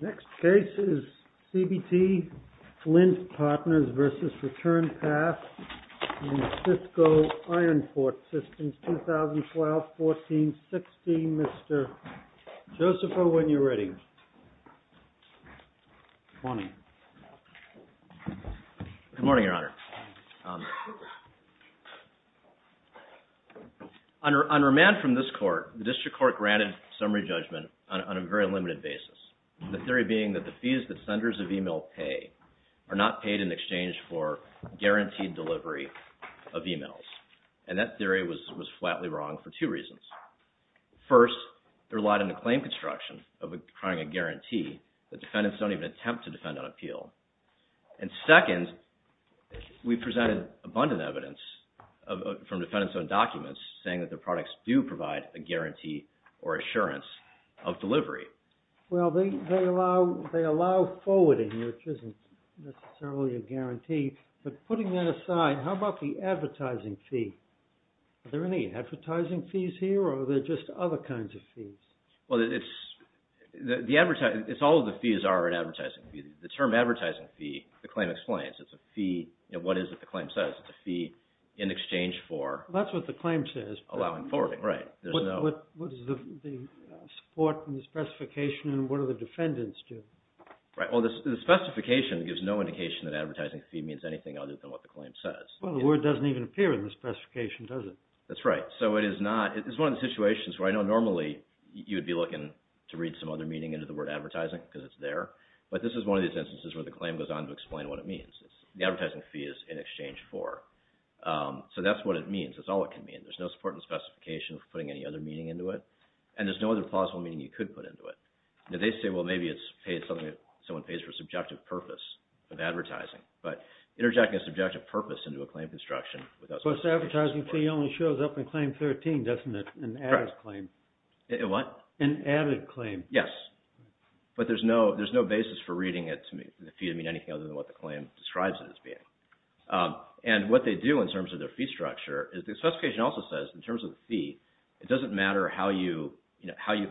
Next case is CBT Lint Partners vs. Return Path in Cisco Ironforge Systems, 2012-14-16. Mr. Josepho, when you're ready. Good morning, Your Honor. On remand from this court, the district court granted summary judgment on a very limited basis. The theory being that the fees that senders of email pay are not paid in exchange for guaranteed delivery of emails, and that theory was was flatly wrong for two reasons. First, there lied in the claim construction of a guarantee that defendants don't even attempt to defend on appeal. And second, we presented abundant evidence from defendants on documents saying that the products do provide a guarantee or assurance of delivery. Well, they allow forwarding, which isn't necessarily a advertising fee. Are there any advertising fees here, or are there just other kinds of fees? Well, all of the fees are an advertising fee. The term advertising fee, the claim explains. It's a fee, you know, what is it the claim says. It's a fee in exchange for... That's what the claim says. Allowing forwarding, right. What does the support and the specification and what do the defendants do? Right, well, the specification gives no indication that advertising fee means anything other than what the claim says. Well, the word doesn't even appear in the specification, does it? That's right. So it is not... It's one of the situations where I know normally you would be looking to read some other meaning into the word advertising, because it's there. But this is one of these instances where the claim goes on to explain what it means. The advertising fee is in exchange for. So that's what it means. That's all it can mean. There's no support and specification for putting any other meaning into it, and there's no other plausible meaning you could put into it. Now, they say, well, maybe it's paid something... Someone pays for subjective purpose of advertising, but interjecting a subjective purpose into a claim construction without... But the advertising fee only shows up in claim 13, doesn't it? An added claim. What? An added claim. Yes. But there's no basis for reading it to mean anything other than what the claim describes it as being. And what they do in terms of their fee structure is the specification also says, in terms of the fee, it doesn't matter how you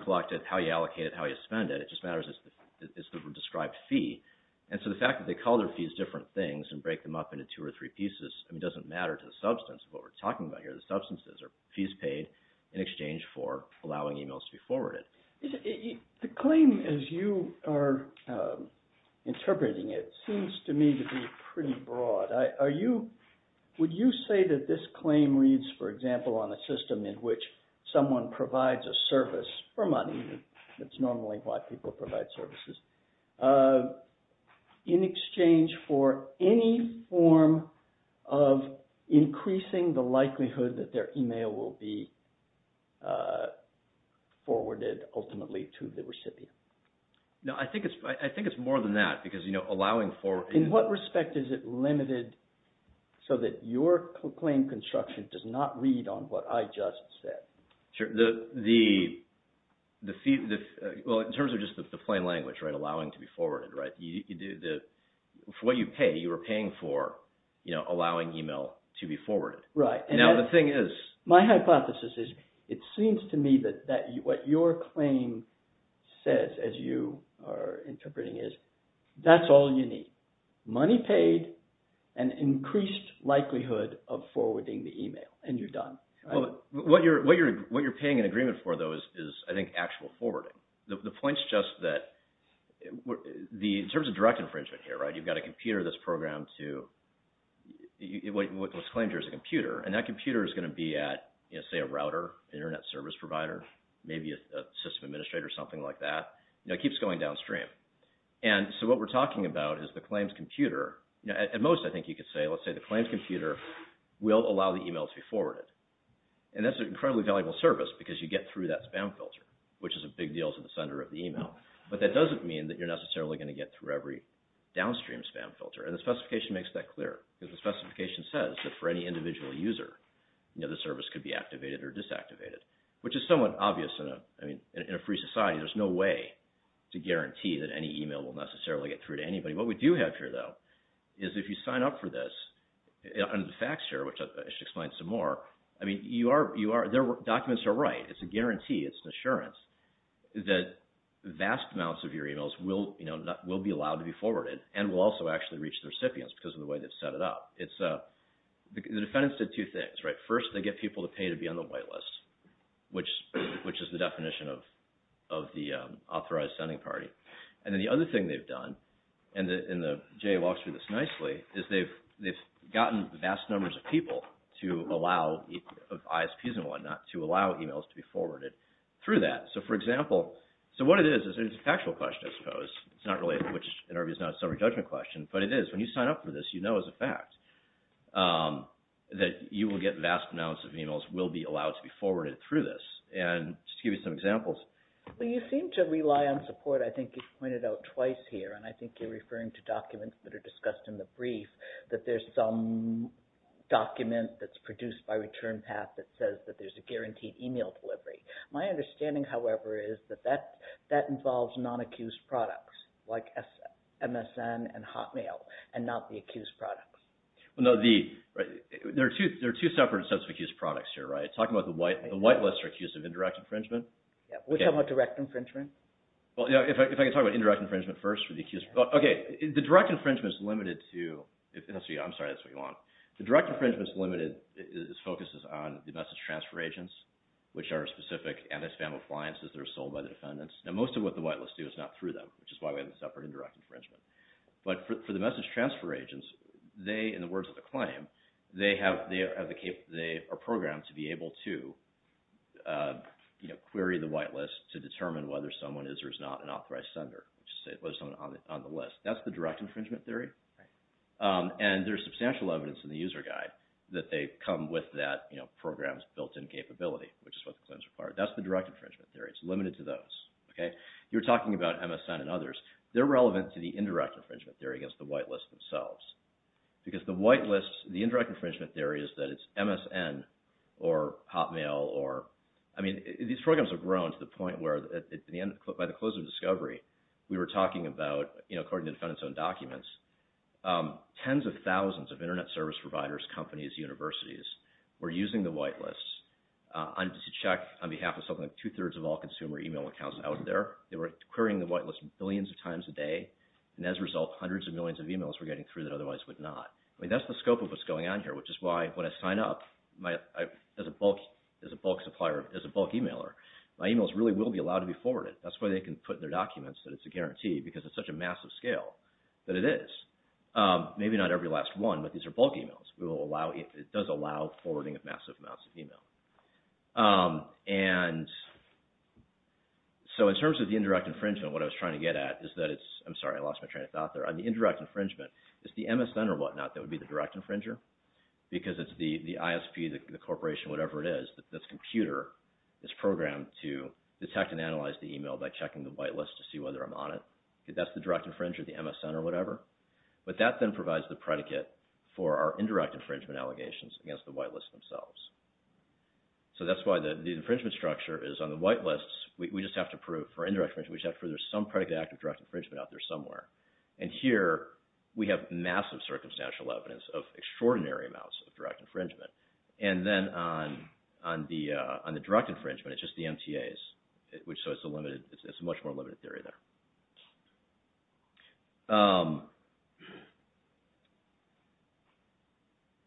collect it, how you allocate it, how you spend it. It just matters it's the described fee. And so the fact that they call their fees different things and break them up into two or three pieces, it doesn't matter to the substance of what we're talking about here. The substance is fees paid in exchange for allowing emails to be forwarded. The claim, as you are interpreting it, seems to me to be pretty broad. Are you... Would you say that this claim reads, for example, on a system in which someone provides a service for money, that's normally why people provide services, in exchange for any form of increasing the likelihood that their email will be forwarded ultimately to the recipient? No, I think it's more than that because, you know, allowing for... In what respect is it limited so that your claim construction does not read on what I just said? Sure. The fee... Well, in terms of just the plain language, right, allowing to be forwarded, right? You do the... For what you pay, you are paying for, you know, allowing email to be forwarded. Right. And now the thing is... My hypothesis is it seems to me that what your claim says, as you are interpreting it, that's all you need. Money paid and increased likelihood of forwarding the email and you're done. Well, what you're paying an agreement for, though, is, I think, actual forwarding. The point's just that... In terms of direct infringement here, right, you've got a computer that's programmed to... What's claimed here is a computer, and that computer is going to be at, you know, say a router, an internet service provider, maybe a system administrator, something like that. You know, it keeps going downstream. And so what we're talking about is the claims computer... At most, I think you could say, let's say the claims computer will allow the email to be forwarded. And that's an incredibly valuable service because you get through that spam filter, which is a big deal to the sender of the email. But that doesn't mean that you're necessarily going to get through every downstream spam filter. And the specification makes that clear. Because the specification says that for any individual user, you know, the service could be activated or disactivated, which is somewhat obvious in a... I mean, in a free society, there's no way to guarantee that any email will necessarily get through to anybody. What we do have here, though, is if you sign up for this... And the facts here, which I should explain some more, I mean, you are... Documents are right. It's a guarantee. It's an assurance that vast amounts of your emails will, you know, will be allowed to be forwarded and will also actually reach the recipients because of the way they've set it up. It's... The defendants did two things, right? First, they get people to pay to be on the wait list, which is the definition of the authorized sending party. And then the other thing they've done, and Jay walks through this nicely, is they've gotten vast numbers of people to allow ISPs and whatnot to allow emails to be forwarded through that. So, for example... So, what it is, it's a factual question, I suppose. It's not really... Which, in our view, is not a summary judgment question, but it is. When you sign up for this, you know as a fact that you will get vast amounts of emails will be allowed to be forwarded through this. And just to give you some examples... Well, you seem to rely on support, I think you've pointed out twice here. And I think you're referring to documents that are discussed in the brief, that there's some document that's produced by ReturnPath that says that there's a guaranteed email delivery. My understanding, however, is that that involves non-accused products, like MSN and Hotmail, and not the accused products. Well, no, the... There are two separate sets of accused products here, right? Talking about the wait list are accused of indirect infringement. Yeah. We're talking about direct infringement? Well, yeah, if I can talk about indirect infringement first for the accused... Okay, the direct infringement is limited to... I'm sorry, that's what you want. The direct infringement is limited... It focuses on the message transfer agents, which are specific anti-spam appliances that are sold by the defendants. Now, most of what the wait list do is not through them, which is why we have a separate indirect infringement. But for the message transfer agents, they, in the words of the claim, they are programmed to be able to query the wait list to determine whether someone is or is not an authorized sender, whether someone's on the list. That's the direct infringement theory. And there's substantial evidence in the user guide that they come with that program's built-in capability, which is what the claims require. That's the direct infringement theory. It's limited to those, okay? You're talking about MSN and others. They're relevant to the indirect infringement theory against the wait list themselves. Because the wait list, the indirect infringement theory is that it's MSN or Hotmail or... I mean, these programs have grown to the extent that they're not authorized to query. We were talking about, you know, according to the defendant's own documents, tens of thousands of internet service providers, companies, universities were using the wait list to check on behalf of something like two-thirds of all consumer email accounts out there. They were querying the wait list billions of times a day. And as a result, hundreds of millions of emails were getting through that otherwise would not. I mean, that's the scope of what's going on here, which is why when I sign up, as a bulk supplier, as a bulk emailer, my emails really will be allowed to be forwarded. That's why they can put in their documents that it's a guarantee, because it's such a massive scale that it is. Maybe not every last one, but these are bulk emails. It does allow forwarding of massive amounts of email. And so, in terms of the indirect infringement, what I was trying to get at is that it's... I'm sorry, I lost my train of thought there. On the indirect infringement, it's the MSN or whatnot that would be the direct infringer. Because it's the ISP, the corporation, whatever it is, that's computer, it's programmed to detect and analyze the email by checking the wait list to see whether I'm on it. That's the direct infringer, the MSN or whatever. But that then provides the predicate for our indirect infringement allegations against the wait list themselves. So that's why the infringement structure is on the wait lists, we just have to prove for indirect infringement, we just have to prove there's some predicate act of direct infringement out there somewhere. And here, we have massive circumstantial evidence of extraordinary amounts of direct infringement. And then, on the direct infringement, it's just the MTAs, so it's a much more limited theory there.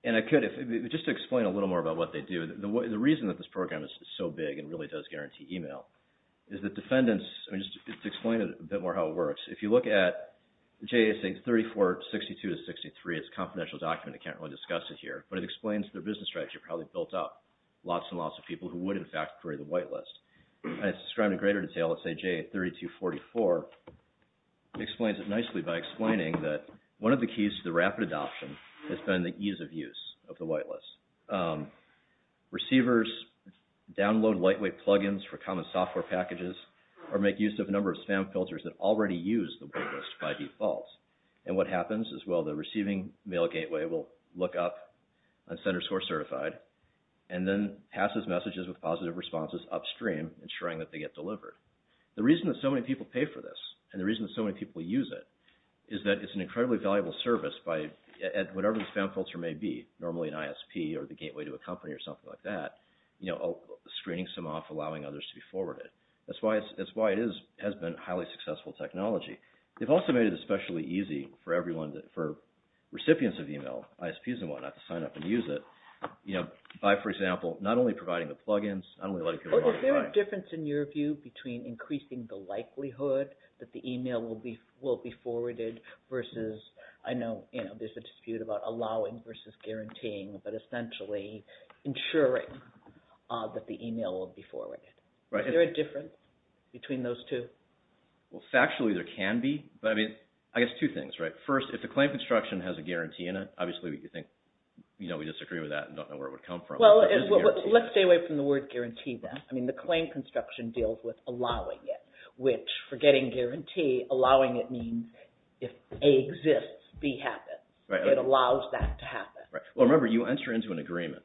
And I could, just to explain a little more about what they do, the reason that this program is so big and really does guarantee email is that defendants... I mean, just to explain a bit more how it works, if you look at JSA 3462-63, it's a confidential document, I can't really discuss it here, but it explains their business strategy of how they built up lots and lots of people who would, in fact, query the wait list. And it's described in greater detail at JSA 3244, it explains it nicely by explaining that one of the keys to the rapid adoption has been the ease of use of the wait list. Receivers download lightweight plugins for common software packages or make use of a number of spam filters. And what happens is, well, the receiving mail gateway will look up on sender score certified and then passes messages with positive responses upstream, ensuring that they get delivered. The reason that so many people pay for this and the reason that so many people use it is that it's an incredibly valuable service at whatever the spam filter may be, normally an ISP or the gateway to a company or something like that, screening some off, allowing others to be forwarded. That's why it has been highly successful technology. They've also made it especially easy for recipients of email, ISPs and whatnot, to sign up and use it by, for example, not only providing the plugins, not only letting people... Is there a difference in your view between increasing the likelihood that the email will be forwarded versus, I know there's a dispute about allowing versus guaranteeing, but essentially ensuring that the email will be forwarded. Is there a difference between those two? Well, factually there can be, but I mean, I guess two things, right? First, if the claim construction has a guarantee in it, obviously we think, you know, we disagree with that and don't know where it would come from. Well, let's stay away from the word guarantee then. I mean, the claim construction deals with allowing it, which forgetting guarantee, allowing it means if A exists, B happens. It allows that to happen. Right. Well, remember, you enter into an agreement.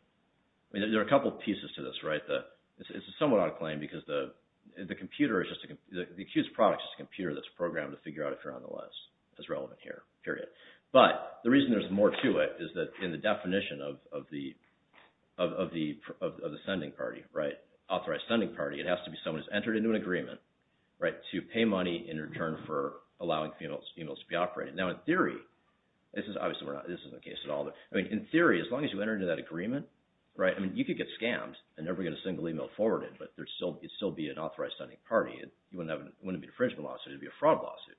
I mean, there are a couple of pieces to this, right? It's a somewhat odd claim because the computer is just, the accused product is a computer that's programmed to figure out if you're on the list. That's relevant here, period. But the reason there's more to it is that in the definition of the sending party, right, authorized sending party, it has to be someone who's entered into an agreement, right, to pay money in return for allowing emails to be operated. Now, in theory, this is obviously not the case at all. I mean, in theory, as long as you enter into that agreement, right, I mean, you could get scammed and never get a single email forwarded, but there'd still be an authorized sending party. It wouldn't be a infringement lawsuit. It'd be a fraud lawsuit.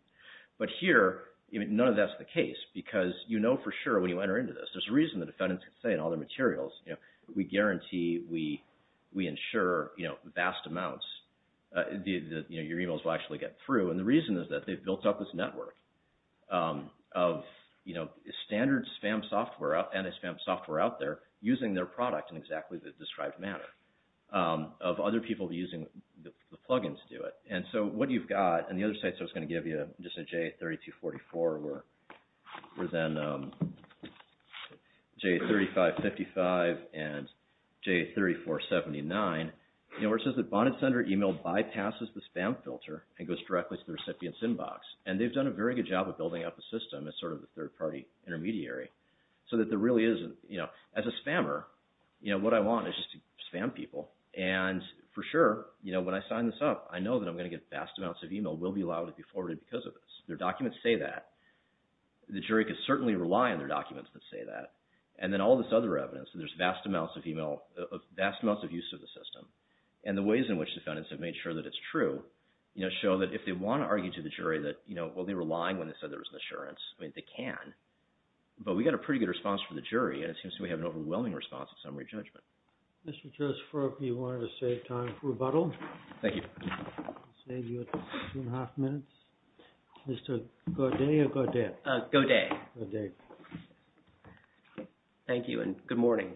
But here, none of that's the case because you know for sure when you enter into this. There's a reason the defendants can say in all their materials, you know, we guarantee, we ensure, you know, vast amounts that your emails will actually get through. And the reason is that they've built up this network of, you know, standard spam software, anti-spam software out there using their product in exactly the described manner of other people using the plug-ins to do it. And so what you've got, and the other sites I was going to give you, just in J3244 were then J3555 and J3479, you know, where it says that bonded sender email bypasses the spam filter and goes directly to the recipient's inbox. And they've done a very good job of building up a system as sort of a third-party intermediary so that there really as a spammer, you know, what I want is just to spam people. And for sure, you know, when I sign this up, I know that I'm going to get vast amounts of email will be allowed to be forwarded because of this. Their documents say that. The jury could certainly rely on their documents that say that. And then all this other evidence, there's vast amounts of email, vast amounts of use of the system. And the ways in which defendants have made sure that it's true, you know, show that if they want to argue to the jury that, you know, well they were lying when they said there was an I mean, they can. But we got a pretty good response from the jury. And it seems to me we have an overwhelming response of summary judgment. Mr. Joseph Roper, you wanted to save time for rebuttal? Thank you. I'll save you two and a half minutes. Mr. Godet or Godet? Godet. Thank you and good morning.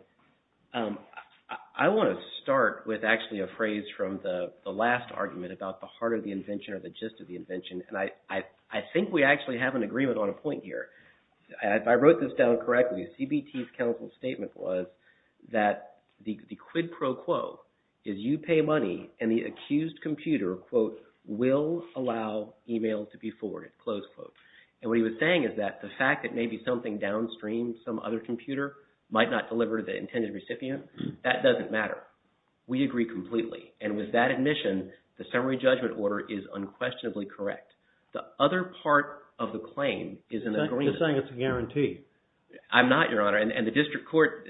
I want to start with actually a phrase from the last argument about the heart of the invention or the gist of the invention. And I think we actually have an agreement on a point here. If I wrote this down correctly, CBT's counsel statement was that the quid pro quo is you pay money and the accused computer, quote, will allow email to be forwarded, close quote. And what he was saying is that the fact that maybe something downstream, some other computer, might not deliver to the intended recipient, that doesn't matter. We agree completely. And with that admission, the summary judgment order is unquestionably correct. The other part of the claim is an agreement. You're saying it's a guarantee. I'm not, Your Honor. And the district court,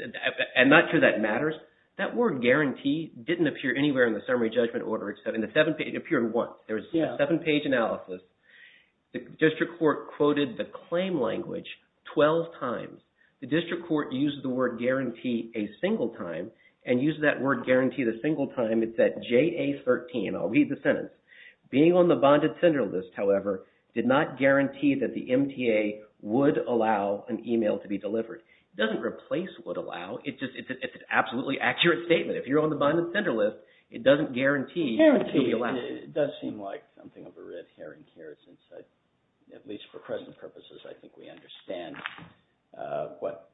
I'm not sure that matters. That word guarantee didn't appear anywhere in the summary judgment order except in the seven page, it appeared once. There was a seven page analysis. The district court quoted the claim language 12 times. The district court used the word guarantee a single time and used that word guarantee a single time. It's at JA13. I'll read the sentence. Being on the bonded sender list, however, did not guarantee that the MTA would allow an email to be delivered. It doesn't replace would allow. It's an absolutely accurate statement. If you're on the bonded sender list, it doesn't guarantee you'll be allowed. It does seem like something of a red herring here since, at least for present purposes, I think we understand what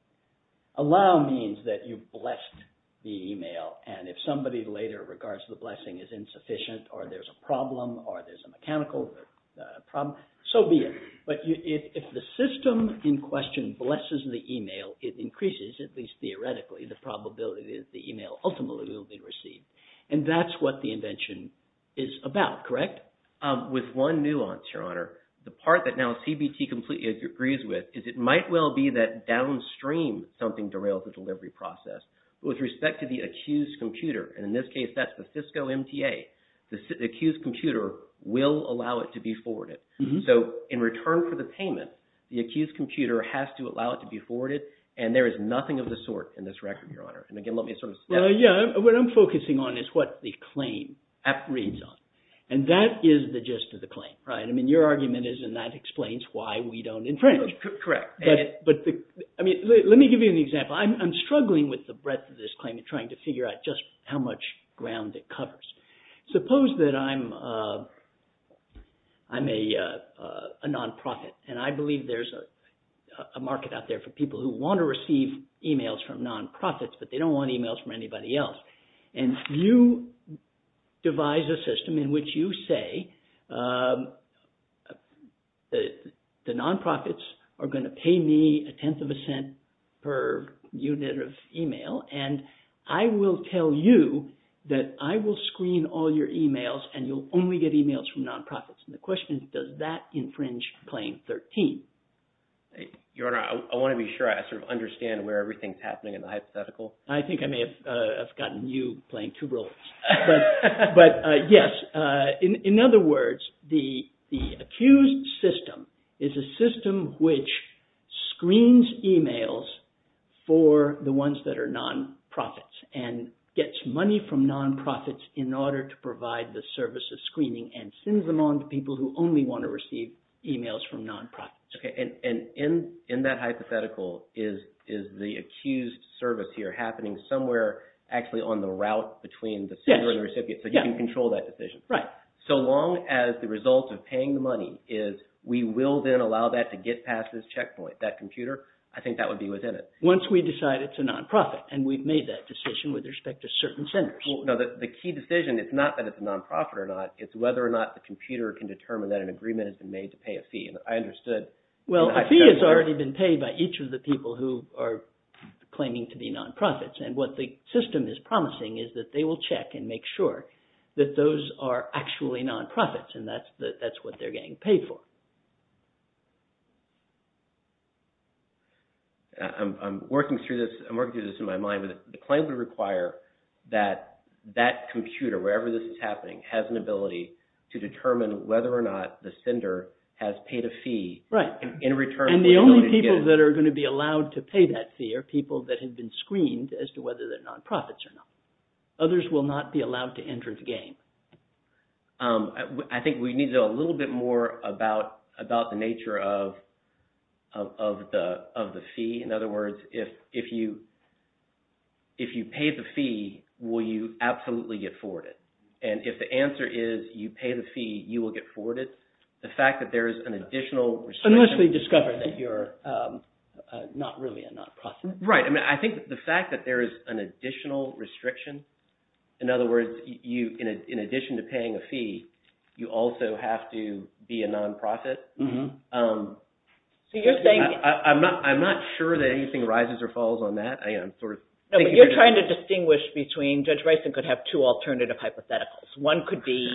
allow means, that you blessed the email. And if somebody later regards the blessing as insufficient, or there's a problem, or there's a mechanical problem, so be it. But if the system in question blesses the email, it increases, at least theoretically, the probability that the email ultimately will be received. And that's what the invention is about, correct? With one nuance, Your Honor, the part that now CBT completely agrees with is it might well be that downstream something derails the delivery process. But with respect to the accused computer, and in this case that's the Cisco MTA, the accused computer will allow it to be forwarded. So in return for the payment, the accused computer has to allow it to be forwarded, and there is nothing of the sort in this record, Your Honor. And again, what I'm focusing on is what the claim reads on. And that is the gist of the claim, right? I mean, your argument is, and that explains why we don't infringe. Let me give you an example. I'm struggling with the breadth of this claim in trying to figure out just how much ground it covers. Suppose that I'm a non-profit, and I believe there's a market out there for people who want to receive emails from non-profits, but they don't want emails from anybody else. And you devise a system in which you say, the non-profits are going to pay me a tenth of a cent per unit of email, and I will tell you that I will screen all your emails, and you'll only get emails from non-profits. And the question is, does that infringe Claim 13? Your Honor, I want to be sure I sort of understand where everything's happening in the hypothetical. I think I may have gotten you playing two roles. But yes, in other words, the accused system is a system which screens emails for the ones that are non-profits and gets money from non-profits in order to provide the service of screening and sends them on to people who only want to receive emails from non-profits. Okay, and in that hypothetical, is the accused service here happening somewhere actually on the route between the sender and the recipient, so you can control that decision? Right. So long as the result of paying the money is, we will then allow that to get past this checkpoint, that computer, I think that would be within it. Once we decide it's a non-profit, and we've made that decision with respect to certain senders. No, the key decision, it's not that it's a non-profit or not, it's whether or not the computer can determine that agreement has been made to pay a fee. And I understood... Well, a fee has already been paid by each of the people who are claiming to be non-profits, and what the system is promising is that they will check and make sure that those are actually non-profits, and that's what they're getting paid for. I'm working through this in my mind, but the claim would require that that sender has paid a fee in return. And the only people that are going to be allowed to pay that fee are people that have been screened as to whether they're non-profits or not. Others will not be allowed to enter the game. I think we need to know a little bit more about the nature of the fee. In other words, if you pay the fee, will you absolutely get forwarded? And if the answer is you pay the fee, you will get forwarded. The fact that there is an additional... Unless we discover that you're not really a non-profit. Right. I mean, I think the fact that there is an additional restriction, in other words, in addition to paying a fee, you also have to be a non-profit. I'm not sure that anything rises or falls on that. You're trying to distinguish between... Judge Bison could have two alternative hypotheticals. One could be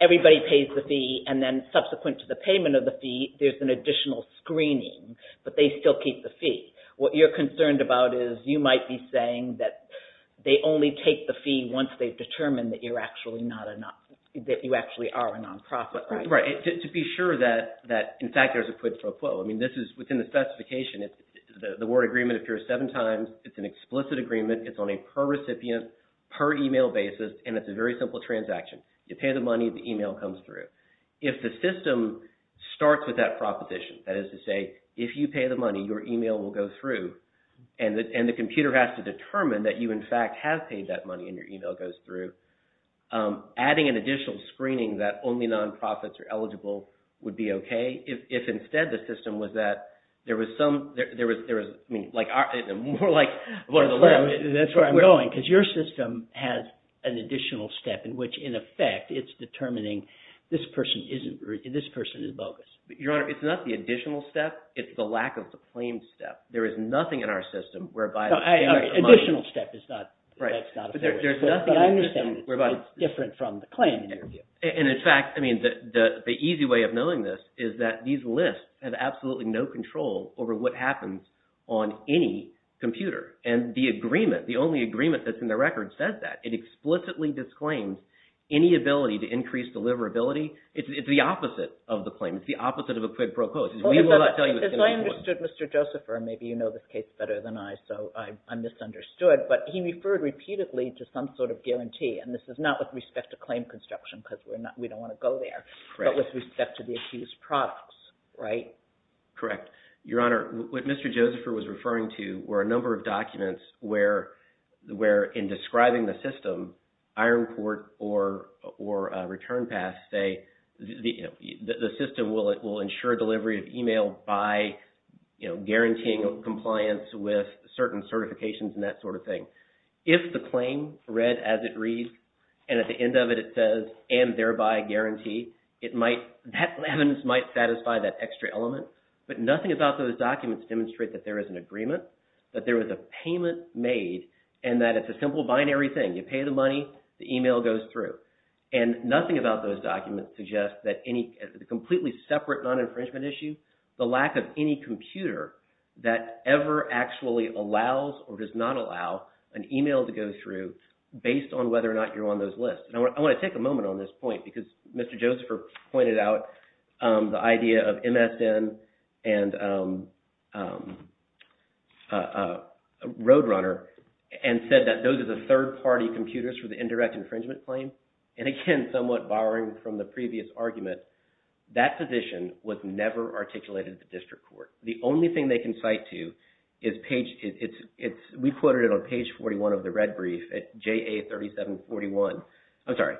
everybody pays the fee, and then subsequent to the payment of the fee, there's an additional screening, but they still keep the fee. What you're concerned about is you might be saying that they only take the fee once they've determined that you actually are a non-profit. Right. To be sure that, in fact, there's a quid pro quo. I mean, this is within the specification. The word agreement appears seven times. It's an explicit agreement. It's on a per-recipient, per-email basis, and it's a very simple transaction. You pay the money, the email comes through. If the system starts with that proposition, that is to say, if you pay the money, your email will go through, and the computer has to determine that you, in fact, have paid that money, and your email goes through, adding an additional screening that only non-profits are eligible would be okay. If instead the system was that there was some... More like one of the... That's where I'm going, because your system has an additional step in which, in effect, it's determining this person is bogus. Your Honor, it's not the additional step. It's the lack of the claimed step. There is nothing in our system whereby... Additional step is not... Right. But there's nothing... But I understand it's different from the claim, in your view. And, in fact, I mean, the easy way of knowing this is that these lists have absolutely no control over what happens on any computer, and the agreement, the only agreement that's in the record says that. It explicitly disclaims any ability to increase deliverability. It's the opposite of the claim. It's the opposite of a quid pro quo. We will not tell you it's going to... As I understood, Mr. Joseph, or maybe you know this case better than I, so I misunderstood, but he referred repeatedly to some sort of guarantee, and this is not with respect to claim construction, because we don't want to go there, but with respect to the accused products, right? Correct. Your Honor, what Mr. Joseph was referring to were a number of documents where, in describing the system, iron court or return pass say the system will ensure delivery of email by guaranteeing compliance with certain certifications and that sort of thing. If the claim read as it reads, and at the end of it it says, and thereby guarantee, that evidence might satisfy that extra element, but nothing about those documents demonstrate that there is an agreement, that there was a payment made, and that it's a simple binary thing. You pay the money, the email goes through, and nothing about those documents suggests that any completely separate non-infringement issue, the lack of any computer that ever actually allows or does not allow an email to go through based on whether or not you're on those lists. And I want to take a moment on this point, because Mr. Joseph pointed out the idea of MSN and Roadrunner, and said that those are the third-party computers for the indirect infringement claim, and again, somewhat borrowing from the previous argument, that position was never articulated at the district court. The only thing they can cite to is page, it's, we quoted it on page 41 of the red brief at JA 3741, I'm sorry,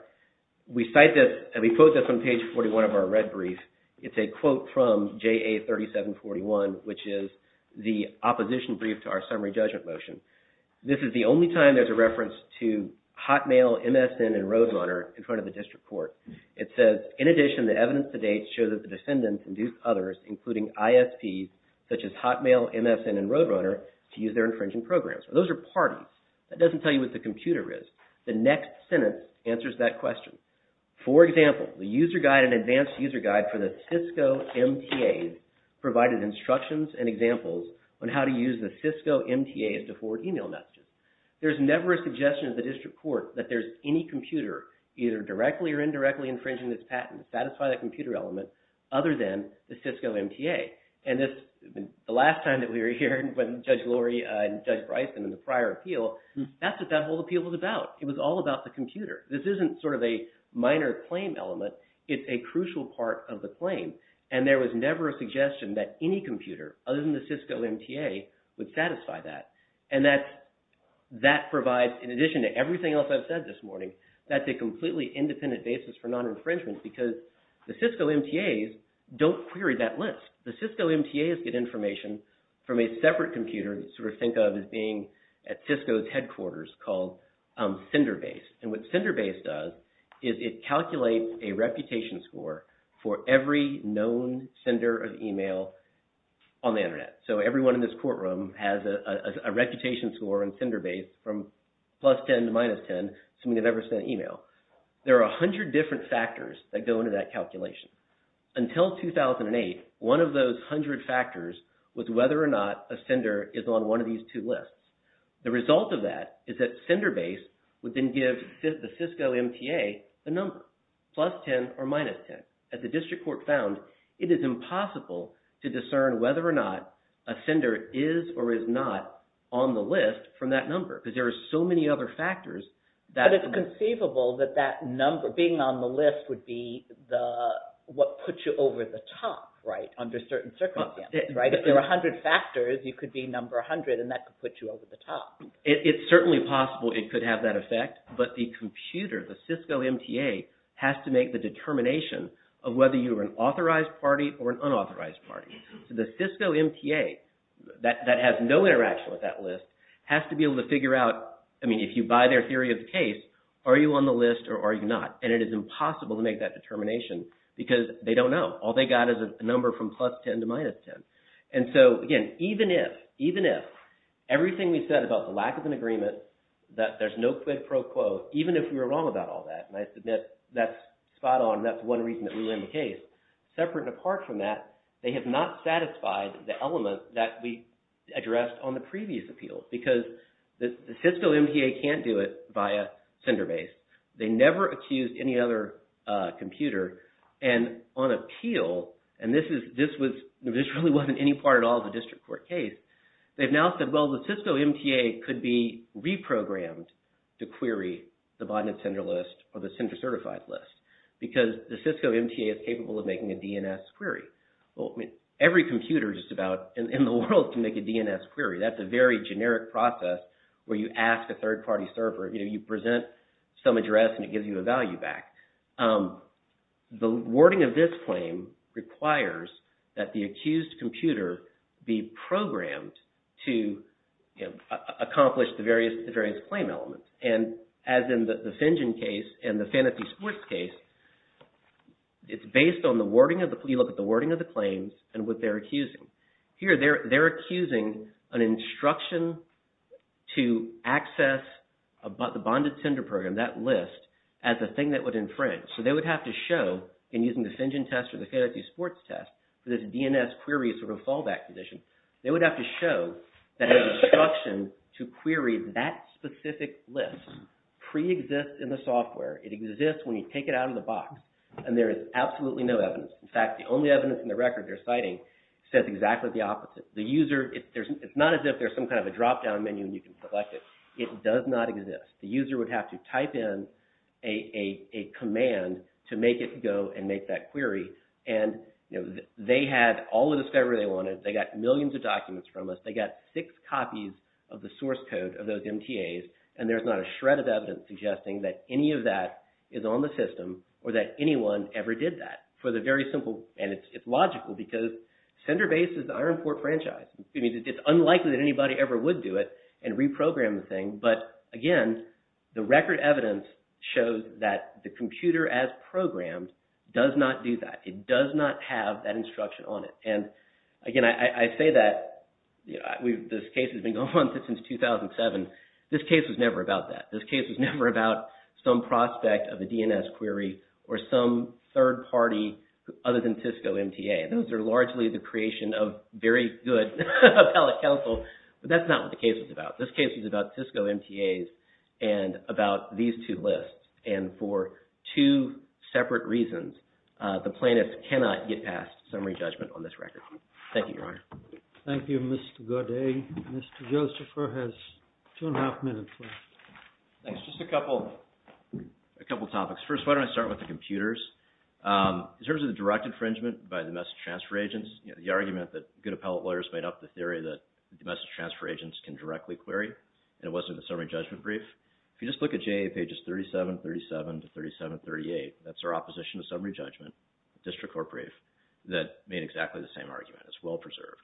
we cite this, and we quote this on page 41 of our red brief, it's a quote from JA 3741, which is the opposition brief to our summary judgment motion. This is the only time there's a reference to Hotmail, MSN, and Roadrunner in front of the district court. It says, in addition, the evidence to date shows that the defendants induced others, including ISPs, such as Hotmail, MSN, and Roadrunner to use their infringing programs. Those are parties. That doesn't tell you what the computer is. The next sentence answers that question. For example, the user guide and advanced user guide for the Cisco MTAs provided instructions and examples on how to use the Cisco MTAs to forward email messages. There's never a suggestion at the district court that there's any patent to satisfy that computer element other than the Cisco MTA. And this, the last time that we were here, when Judge Lurie and Judge Bryson in the prior appeal, that's what that whole appeal was about. It was all about the computer. This isn't sort of a minor claim element, it's a crucial part of the claim. And there was never a suggestion that any computer, other than the Cisco MTA, would satisfy that. And that's, that provides, in addition to everything else I've said this morning, that's a completely independent basis for non-infringement because the Cisco MTAs don't query that list. The Cisco MTAs get information from a separate computer that's sort of think of as being at Cisco's headquarters called sender base. And what sender base does is it calculates a reputation score for every known sender of email on the internet. So everyone in this courtroom has a reputation score on sender base from plus 10 to minus 10, so many have ever sent email. There are 100 different factors that go into that calculation. Until 2008, one of those 100 factors was whether or not a sender is on one of these two lists. The result of that is that sender base would then give the Cisco MTA the number, plus 10 or minus 10. As the district court found, it is impossible to discern whether or not a sender is or is not on the list from that number because there are so many other factors. But it's conceivable that that number being on the list would be the, what puts you over the top, right, under certain circumstances, right? If there are 100 factors, you could be number 100 and that could put you over the top. It's certainly possible it could have that effect, but the computer, the Cisco MTA, has to make the determination of whether you are an authorized party or an unauthorized party. So the Cisco MTA that has no interaction with that list has to be able to figure out, I mean, if you buy their theory of the case, are you on the list or are you not? And it is impossible to make that determination because they don't know. All they got is a number from plus 10 to minus 10. And so, again, even if, even if, everything we said about the lack of an agreement, that there's no quid pro quo, even if we were wrong about all that, and I submit that's spot on, that's one reason that we win the case. Separate and apart from that, they have not satisfied the element that we addressed on the previous appeal because the Cisco MTA can't do it via CinderBase. They never accused any other computer. And on appeal, and this is, this was, this really wasn't any part at all of the district court case, they've now said, well, the Cisco MTA could be reprogrammed to query the botnet sender list or the sender certified list because the Cisco MTA is capable of making a DNS query. Well, every computer just about in the world can make a DNS query. That's a very generic process where you ask a third party server, you know, you present some address and it gives you a value back. The wording of this claim requires that the accused computer be programmed to, you know, accomplish the various claim elements. And as in the Finjen case and the Fantasy Sports case, it's based on the wording of the, you look at the wording of the claims and what they're accusing. Here, they're accusing an instruction to access the bonded sender program, that list, as a thing that would infringe. So, they would have to show, in using the Finjen test or the Fantasy Sports test, that this DNS query is sort of a fallback position. They would have to show that an instruction to query that specific list pre-exists in the software. It exists when you take it out of the box and there is absolutely no evidence. In fact, the only evidence in the record they're citing says exactly the opposite. The user, it's not as if there's some kind of a drop down menu and you can select it. It does not exist. The user would have to type in a command to make it go and make that query. And, you know, they had all the discovery they wanted. They got millions of documents from us. They got six copies of the source code of those MTAs. And there's not a shred of evidence suggesting that any of that is on the system or that anyone ever did that. For the very simple, and it's logical because Senderbase is the Ironport franchise. It's unlikely that anybody ever would do it and reprogram the thing. But, again, the record evidence shows that the computer as programmed does not do that. It does not have that instruction on it. And, again, I say that this case has been going on since 2007. This case was never about that. This case was never about some prospect of a DNS query or some third party other than the appellate counsel. But that's not what the case was about. This case was about Cisco MTAs and about these two lists. And for two separate reasons, the plaintiffs cannot get past summary judgment on this record. Thank you, Your Honor. Thank you, Mr. Gaudet. Mr. Josepher has two and a half minutes left. Thanks. Just a couple topics. First, why don't I start with the computers. In terms of the direct infringement by the message transfer agents, the argument that good appellate lawyers made up the theory that the message transfer agents can directly query, and it wasn't in the summary judgment brief. If you just look at JA pages 37, 37 to 37, 38, that's our opposition to summary judgment, district court brief, that made exactly the same argument. It's well preserved.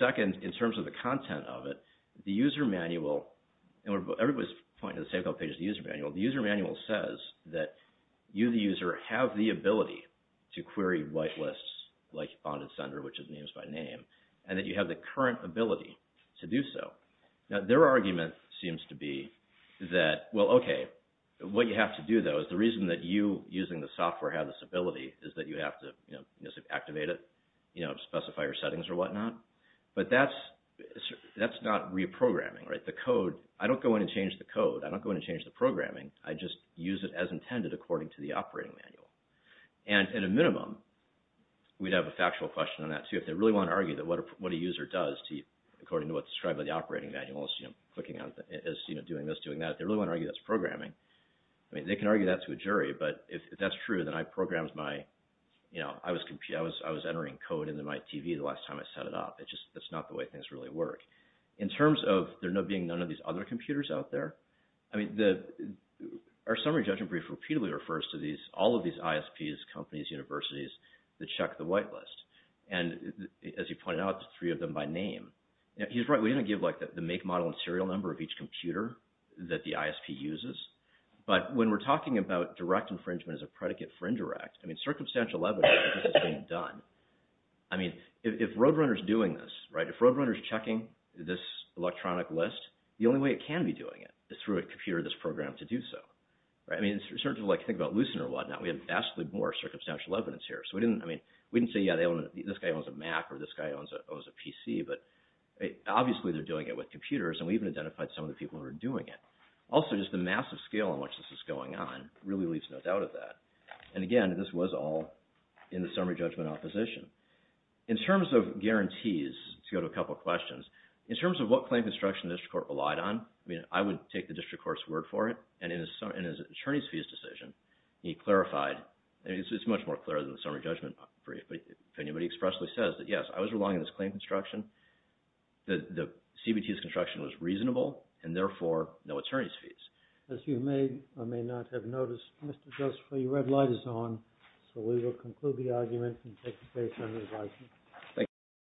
Second, in terms of the content of it, the user manual, and everybody's pointing to the same couple pages of the user manual. The user manual says that you, the user, have the ability to query white lists like bonded sender, which is names by name, and that you have the current ability to do so. Now, their argument seems to be that, well, okay, what you have to do, though, is the reason that you, using the software, have this ability is that you have to activate it, specify your settings or whatnot. But that's not reprogramming, right? The code, I don't go in and change the code. I don't go in and change the programming. I just use it as intended according to the operating manual. And at a minimum, we'd have a factual question on that, too. If they really want to argue that what a user does to you, according to what's described by the operating manual, is clicking on, is doing this, doing that, they really want to argue that's programming. I mean, they can argue that to a jury, but if that's true, then I programmed my, you know, I was entering code into my TV the last time I set it up. It's just, that's not the way things really work. In terms of there being none of these other computers out there, I mean, our summary judgment repeatedly refers to these, all of these ISPs, companies, universities that check the whitelist. And as you pointed out, there's three of them by name. He's right. We didn't give like the make, model, and serial number of each computer that the ISP uses. But when we're talking about direct infringement as a predicate for indirect, I mean, circumstantial evidence that this is being done. I mean, if Roadrunner's doing this, right, if Roadrunner's checking this electronic list, the only way it can be doing it is through a computer in this program to do so. Right. I mean, in terms of like, think about Lucent or whatnot, we have vastly more circumstantial evidence here. So we didn't, I mean, we didn't say, yeah, they own, this guy owns a Mac or this guy owns a PC, but obviously they're doing it with computers. And we even identified some of the people who are doing it. Also, just the massive scale on which this is going on really leaves no doubt of that. And again, this was all in the summary judgment opposition. In terms of guarantees, to go to a couple of questions, in terms of what claim construction district court relied on, I mean, I would take the district court's word for it. And in his attorney's fees decision, he clarified, and it's much more clear than the summary judgment brief, but if anybody expressly says that, yes, I was relying on this claim construction, the CBT's construction was reasonable and therefore no attorney's fees. As you may or may not have noticed, Mr. Gustafson, your red light is on. So we will conclude the argument and take the case under advisement. Thank you.